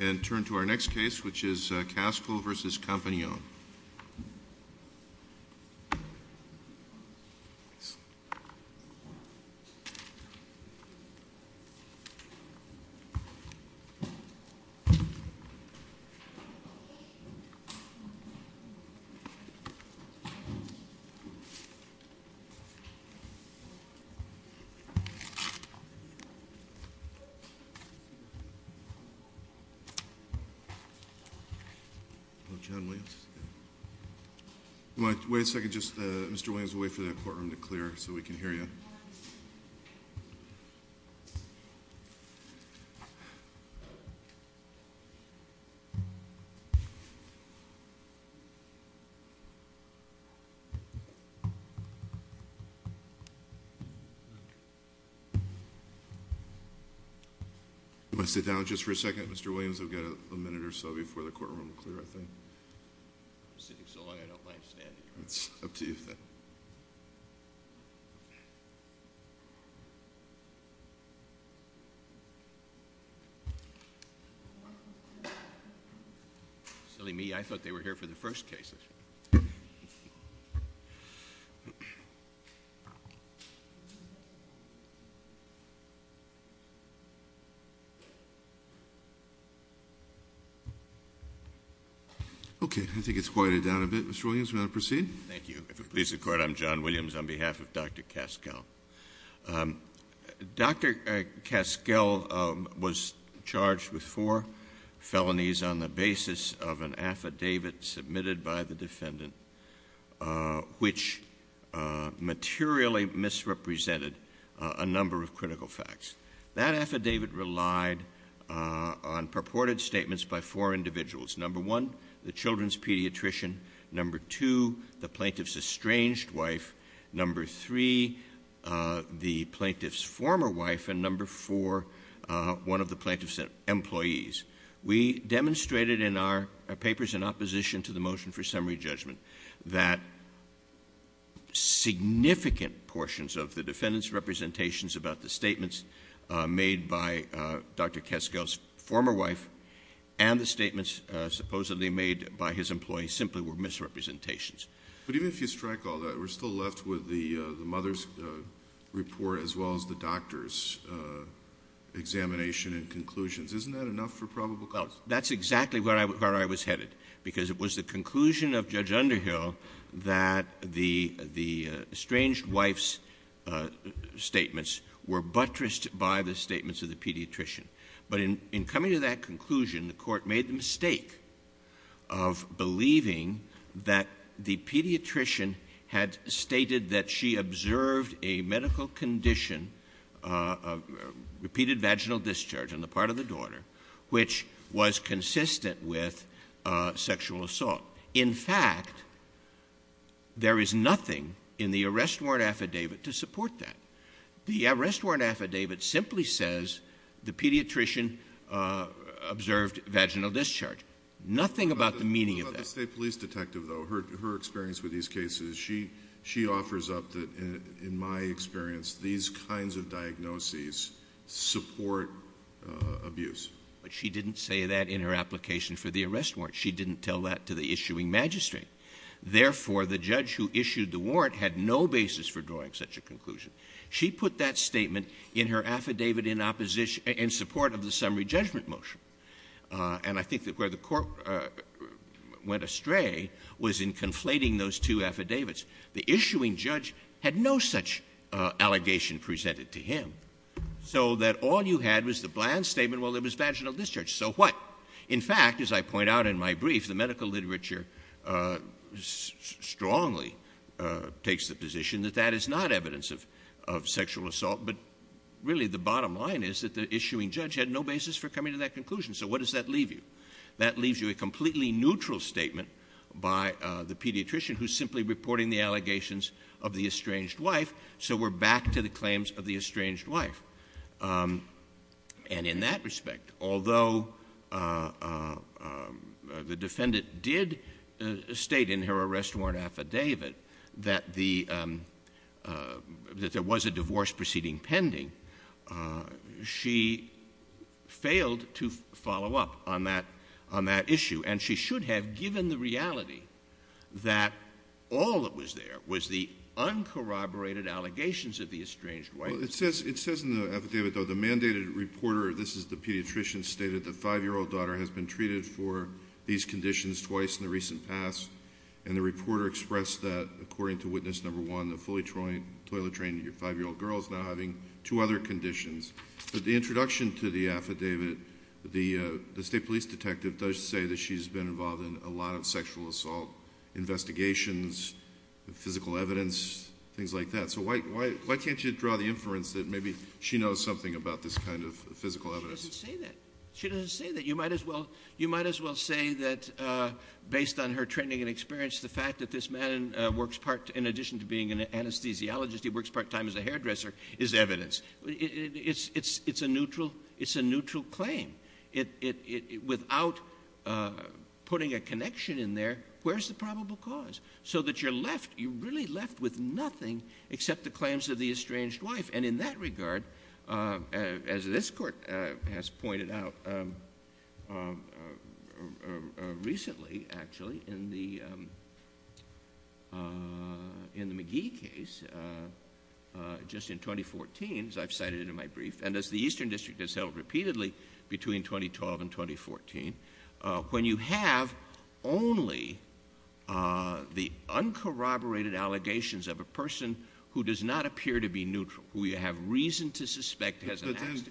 And turn to our next case, which is Kaskel v. Compagnone. Hello, John Williams. You want to wait a second? Mr. Williams, we'll wait for that courtroom to clear so we can hear you. You want to sit down just for a second, Mr. Williams? We've got a minute or so before the courtroom will clear, I think. I've been sitting so long I don't mind standing. It's up to you then. Silly me, I thought they were here for the first cases. Okay. I think it's quieted down a bit. Mr. Williams, you want to proceed? Thank you. If it pleases the court, I'm John Williams on behalf of Dr. Kaskel. Dr. Kaskel was charged with four felonies on the basis of an affidavit submitted by the defendant, which materially misrepresented a number of critical facts. That affidavit relied on purported statements by four individuals. Number one, the children's pediatrician. Number two, the plaintiff's estranged wife. Number three, the plaintiff's former wife. And number four, one of the plaintiff's employees. We demonstrated in our papers in opposition to the motion for summary judgment that significant portions of the defendant's representations about the statements made by Dr. Kaskel's former wife and the statements supposedly made by his employee simply were misrepresentations. But even if you strike all that, we're still left with the mother's report as well as the doctor's examination and conclusions. Isn't that enough for probable cause? Well, that's exactly where I was headed, because it was the conclusion of Judge Underhill that the estranged wife's statements were buttressed by the statements of the pediatrician. But in coming to that conclusion, the court made the mistake of believing that the pediatrician had stated that she observed a medical condition, repeated vaginal discharge on the part of the daughter, which was consistent with sexual assault. In fact, there is nothing in the arrest warrant affidavit to support that. The arrest warrant affidavit simply says the pediatrician observed vaginal discharge. Nothing about the meaning of that. About the state police detective, though, her experience with these cases, she offers up that, in my experience, these kinds of diagnoses support abuse. But she didn't say that in her application for the arrest warrant. She didn't tell that to the issuing magistrate. Therefore, the judge who issued the warrant had no basis for drawing such a conclusion. She put that statement in her affidavit in support of the summary judgment motion. And I think that where the court went astray was in conflating those two affidavits. The issuing judge had no such allegation presented to him, so that all you had was the bland statement, well, it was vaginal discharge. So what? In fact, as I point out in my brief, the medical literature strongly takes the position that that is not evidence of sexual assault. But really, the bottom line is that the issuing judge had no basis for coming to that conclusion. So what does that leave you? That leaves you a completely neutral statement by the pediatrician who's simply reporting the allegations of the estranged wife. So we're back to the claims of the estranged wife. And in that respect, although the defendant did state in her arrest warrant affidavit that there was a divorce proceeding pending, she failed to follow up on that issue. And she should have given the reality that all that was there was the uncorroborated allegations of the estranged wife. Well, it says in the affidavit, though, the mandated reporter, this is the pediatrician, stated the five-year-old daughter has been treated for these conditions twice in the recent past. And the reporter expressed that, according to witness number one, the fully toilet-trained five-year-old girl is now having two other conditions. But the introduction to the affidavit, the state police detective does say that she's been involved in a lot of sexual assault investigations, physical evidence, things like that. So why can't you draw the inference that maybe she knows something about this kind of physical evidence? She doesn't say that. She doesn't say that. You might as well say that, based on her training and experience, the fact that this man works part, in addition to being an anesthesiologist, he works part-time as a hairdresser, is evidence. It's a neutral claim. Without putting a connection in there, where's the probable cause? So that you're left, you're really left with nothing except the claims of the estranged wife. And in that regard, as this court has pointed out recently, actually, in the McGee case, just in 2014, as I've cited in my brief, and as the Eastern District has held repeatedly between 2012 and 2014, when you have only the uncorroborated allegations of a person who does not appear to be neutral, who you have reason to suspect has an accident.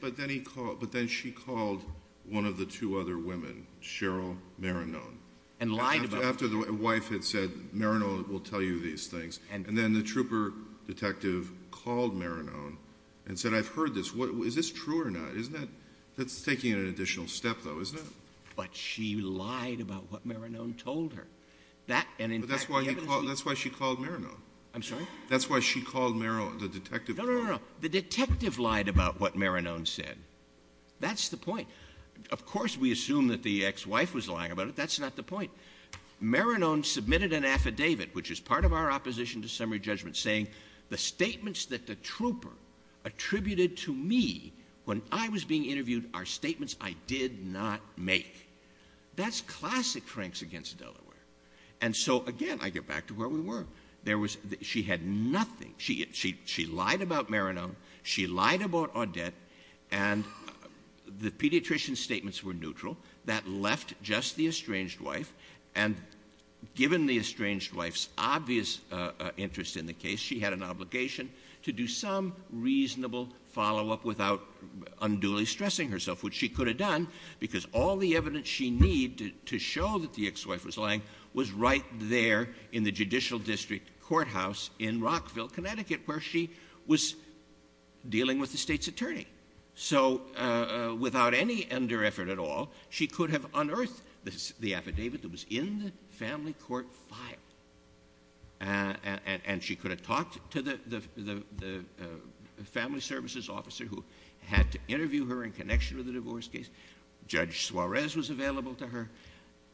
But then she called one of the two other women, Cheryl Marinone. And lied about it. After the wife had said, Marinone will tell you these things. And then the trooper detective called Marinone and said, I've heard this. Is this true or not? That's taking an additional step, though, isn't it? But she lied about what Marinone told her. That's why she called Marinone. I'm sorry? That's why she called Marinone, the detective. No, no, no. The detective lied about what Marinone said. That's the point. Of course we assume that the ex-wife was lying about it. That's not the point. Marinone submitted an affidavit, which is part of our opposition to summary judgment, saying the statements that the trooper attributed to me when I was being interviewed are statements I did not make. That's classic Franks against Delaware. And so, again, I get back to where we were. She had nothing. She lied about Marinone. She lied about Audette. And the pediatrician's statements were neutral. That left just the estranged wife, and given the estranged wife's obvious interest in the case, she had an obligation to do some reasonable follow-up without unduly stressing herself, which she could have done because all the evidence she needed to show that the ex-wife was lying was right there in the judicial district courthouse in Rockville, Connecticut, where she was dealing with the state's attorney. So without any under-effort at all, she could have unearthed the affidavit that was in the family court file, and she could have talked to the family services officer who had to interview her in connection with the divorce case. Judge Suarez was available to her.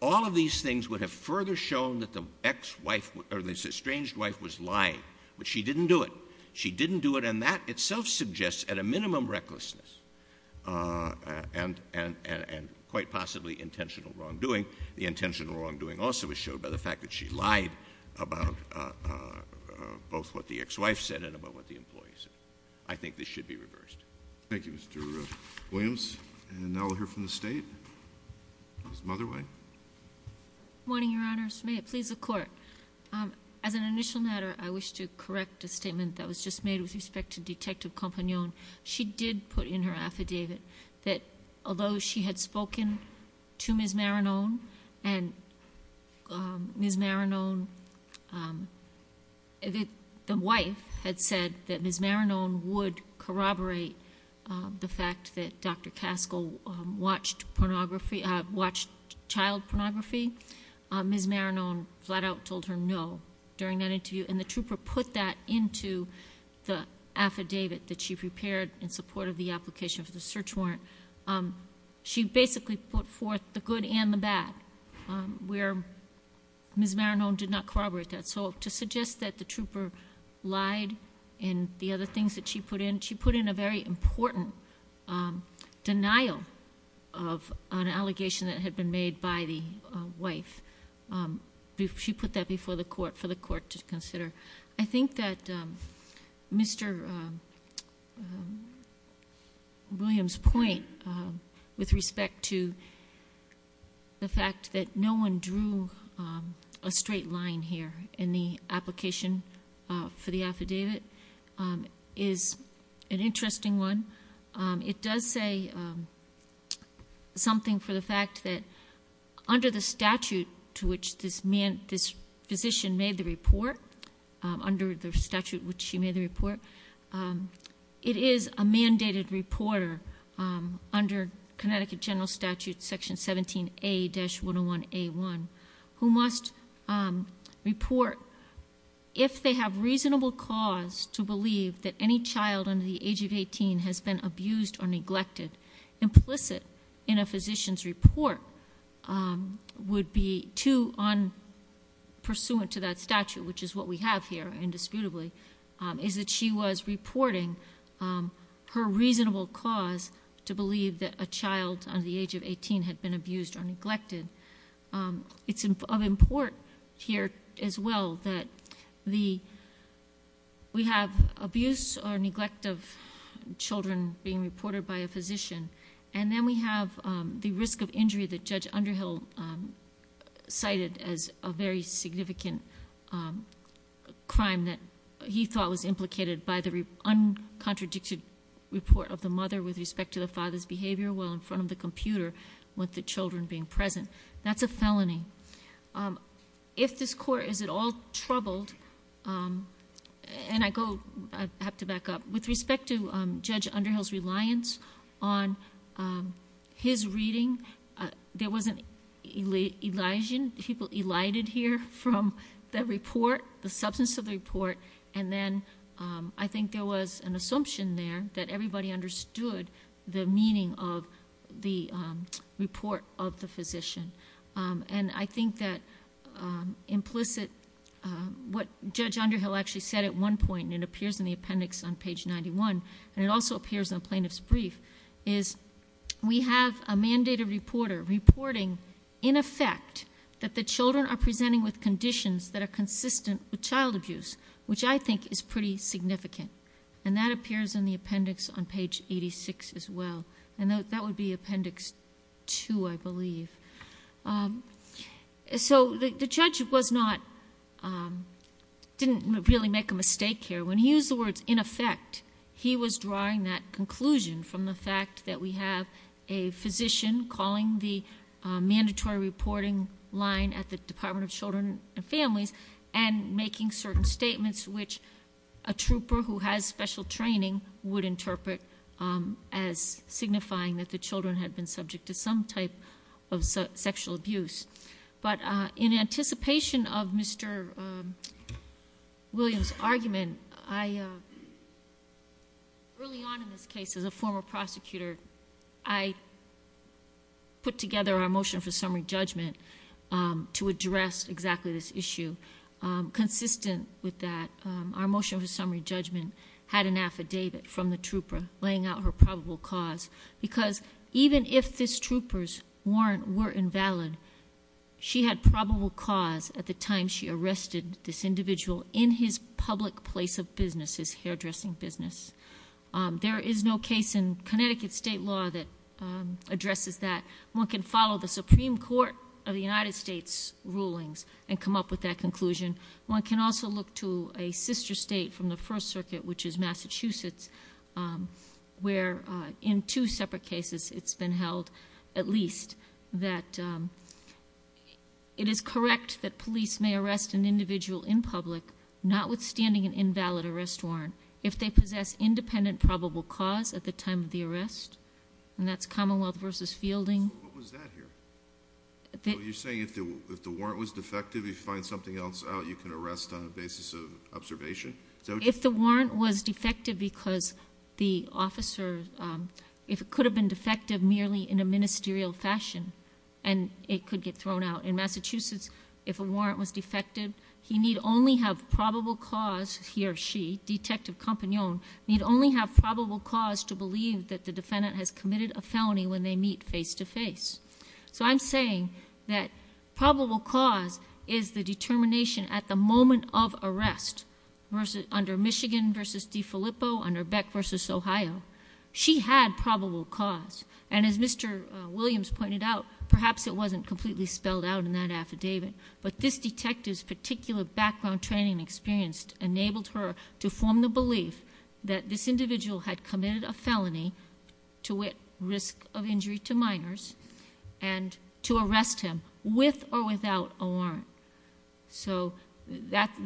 All of these things would have further shown that the estranged wife was lying, but she didn't do it. She didn't do it, and that itself suggests at a minimum recklessness and quite possibly intentional wrongdoing. The intentional wrongdoing also was shown by the fact that she lied about both what the ex-wife said and about what the employee said. I think this should be reversed. Thank you, Mr. Williams. And now we'll hear from the State. Ms. Motherway. Good morning, Your Honors. May it please the Court. As an initial matter, I wish to correct a statement that was just made with respect to Detective Compagnon. She did put in her affidavit that although she had spoken to Ms. Marinone and Ms. Marinone, the wife had said that Ms. Marinone would corroborate the fact that Dr. Caskell watched child pornography. Ms. Marinone flat out told her no during that interview, and the trooper put that into the affidavit that she prepared in support of the application for the search warrant. She basically put forth the good and the bad, where Ms. Marinone did not corroborate that. So to suggest that the trooper lied and the other things that she put in, she put in a very important denial of an allegation that had been made by the wife. She put that before the Court for the Court to consider. I think that Mr. Williams' point with respect to the fact that no one drew a straight line here in the application for the affidavit is an interesting one. It does say something for the fact that under the statute to which this physician made the report, under the statute which she made the report, it is a mandated reporter under Connecticut General Statute Section 17A-101A1 who must report if they have reasonable cause to believe that any child under the age of 18 has been abused or neglected. Implicit in a physician's report would be too on pursuant to that statute, which is what we have here indisputably, is that she was reporting her reasonable cause to believe that a child under the age of 18 had been abused or neglected. It's of import here as well that we have abuse or neglect of children being reported by a physician. And then we have the risk of injury that Judge Underhill cited as a very significant crime that he thought was implicated by the uncontradicted report of the mother with respect to the father's behavior, while in front of the computer with the children being present. That's a felony. If this court is at all troubled, and I have to back up, with respect to Judge Underhill's reliance on his reading, there wasn't elision, people elided here from the report, the substance of the report. And then I think there was an assumption there that everybody understood the meaning of the report of the physician. And I think that implicit, what Judge Underhill actually said at one point, and it appears in the appendix on page 91, and it also appears on plaintiff's brief, is we have a mandated reporter reporting in effect that the children are presenting with conditions that are consistent with child abuse, which I think is pretty significant. And that appears in the appendix on page 86 as well. And that would be appendix 2, I believe. So the judge didn't really make a mistake here. When he used the words in effect, he was drawing that conclusion from the fact that we have a physician calling the mandatory reporting line at the Department of Children and Families, and making certain statements which a trooper who has special training would interpret as signifying that the children had been subject to some type of sexual abuse. But in anticipation of Mr. Williams' argument, early on in this case as a former prosecutor, I put together our motion for summary judgment to address exactly this issue. Consistent with that, our motion for summary judgment had an affidavit from the trooper laying out her probable cause, because even if this trooper's warrant were invalid, she had probable cause at the time she arrested this individual in his public place of business, his hairdressing business. There is no case in Connecticut state law that addresses that. One can follow the Supreme Court of the United States' rulings and come up with that conclusion. One can also look to a sister state from the First Circuit, which is Massachusetts, where in two separate cases it's been held at least that it is correct that police may arrest an individual in public, notwithstanding an invalid arrest warrant, if they possess independent probable cause at the time of the arrest. And that's Commonwealth v. Fielding. So what was that here? You're saying if the warrant was defective, if you find something else out, you can arrest on the basis of observation? If the warrant was defective because the officer could have been defective merely in a ministerial fashion and it could get thrown out. In Massachusetts, if a warrant was defective, he need only have probable cause, he or she, Detective Campagnon, need only have probable cause to believe that the defendant has committed a felony when they meet face to face. So I'm saying that probable cause is the determination at the moment of arrest under Michigan v. DeFilippo, under Beck v. Ohio. She had probable cause. And as Mr. Williams pointed out, perhaps it wasn't completely spelled out in that affidavit, but this detective's particular background training and experience enabled her to form the belief that this individual had committed a felony to risk of injury to minors and to arrest him with or without a warrant. So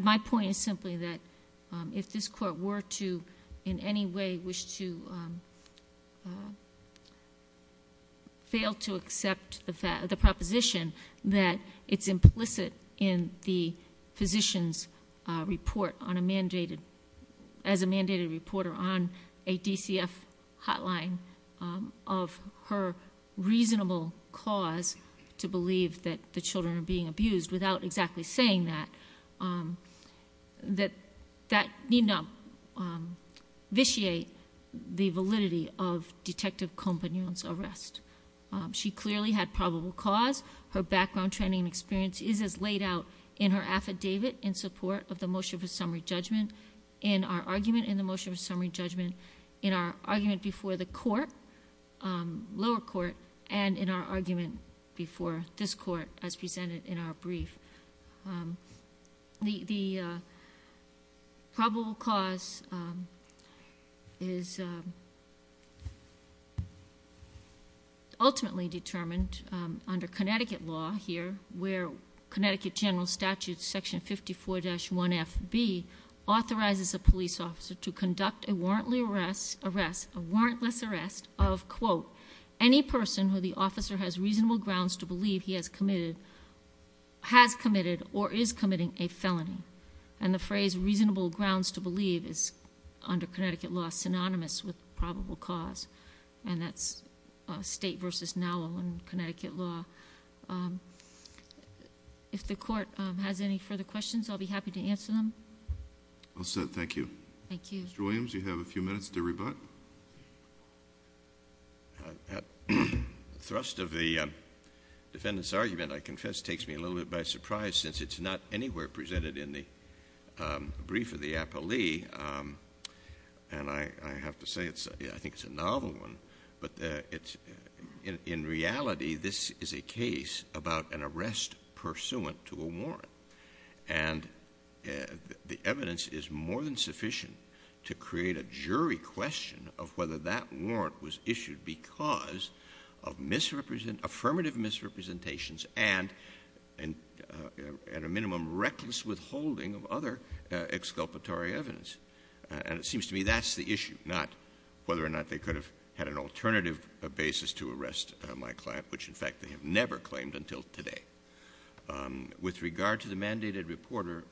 my point is simply that if this court were to in any way wish to fail to accept the proposition, that it's implicit in the physician's report as a mandated reporter on a DCF hotline of her reasonable cause to believe that the children are being abused without exactly saying that, that need not vitiate the validity of Detective Campagnon's arrest. She clearly had probable cause. Her background training and experience is as laid out in her affidavit in support of the motion for summary judgment, in our argument in the motion for summary judgment, in our argument before the court, lower court, and in our argument before this court as presented in our brief. The probable cause is ultimately determined under Connecticut law here, where Connecticut general statute section 54-1FB authorizes a police officer to conduct a warrantless arrest of, quote, any person who the officer has reasonable grounds to believe he has committed or is committing a felony. And the phrase reasonable grounds to believe is under Connecticut law synonymous with probable cause, and that's state versus now in Connecticut law. If the court has any further questions, I'll be happy to answer them. All set. Thank you. Thank you. Mr. Williams, you have a few minutes to rebut. The thrust of the defendant's argument, I confess, takes me a little bit by surprise, since it's not anywhere presented in the brief of the appellee, and I have to say I think it's a novel one. But in reality, this is a case about an arrest pursuant to a warrant, and the evidence is more than sufficient to create a jury question of whether that warrant was issued because of affirmative misrepresentations and a minimum reckless withholding of other exculpatory evidence. And it seems to me that's the issue, not whether or not they could have had an alternative basis to arrest my client, which, in fact, they have never claimed until today. With regard to the mandated reporter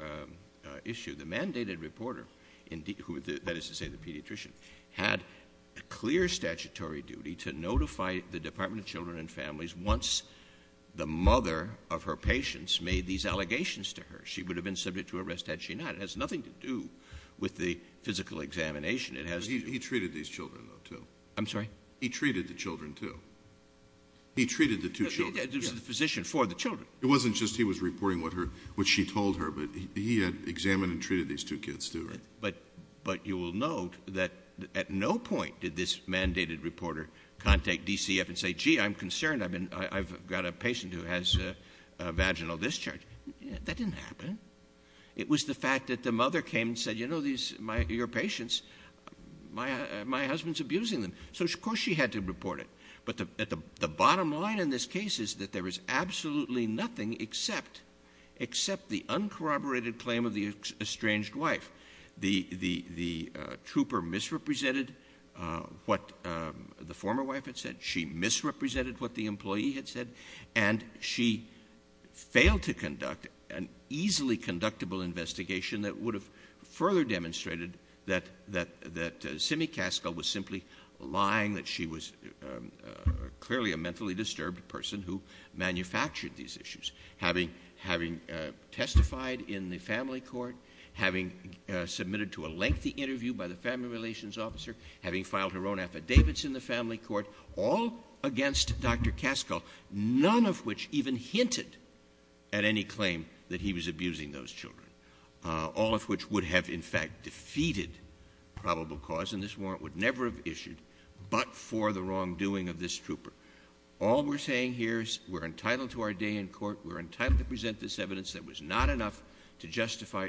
issue, the mandated reporter, that is to say the pediatrician, had a clear statutory duty to notify the Department of Children and Families once the mother of her patients made these allegations to her. She would have been subject to arrest had she not. It has nothing to do with the physical examination. He treated these children, though, too. I'm sorry? He treated the children, too. He treated the two children. He was the physician for the children. It wasn't just he was reporting what she told her, but he had examined and treated these two kids, too. But you will note that at no point did this mandated reporter contact DCF and say, gee, I'm concerned, I've got a patient who has vaginal discharge. That didn't happen. It was the fact that the mother came and said, you know, your patients, my husband's abusing them. So, of course, she had to report it. But the bottom line in this case is that there is absolutely nothing except the uncorroborated claim of the estranged wife. The trooper misrepresented what the former wife had said. She misrepresented what the employee had said. And she failed to conduct an easily conductible investigation that would have further demonstrated that Simmi Caskell was simply lying, that she was clearly a mentally disturbed person who manufactured these issues, having testified in the family court, having submitted to a lengthy interview by the family relations officer, having filed her own affidavits in the family court, all against Dr. Caskell, none of which even hinted at any claim that he was abusing those children, all of which would have, in fact, defeated probable cause, and this warrant would never have issued but for the wrongdoing of this trooper. All we're saying here is we're entitled to our day in court. We're entitled to present this evidence that was not enough to justify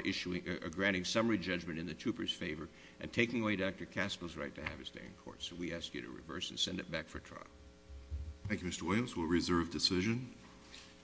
granting summary judgment in the trooper's favor and taking away Dr. Caskell's right to have his day in court. So we ask you to reverse and send it back for trial. Thank you, Mr. Williams. We'll reserve decision.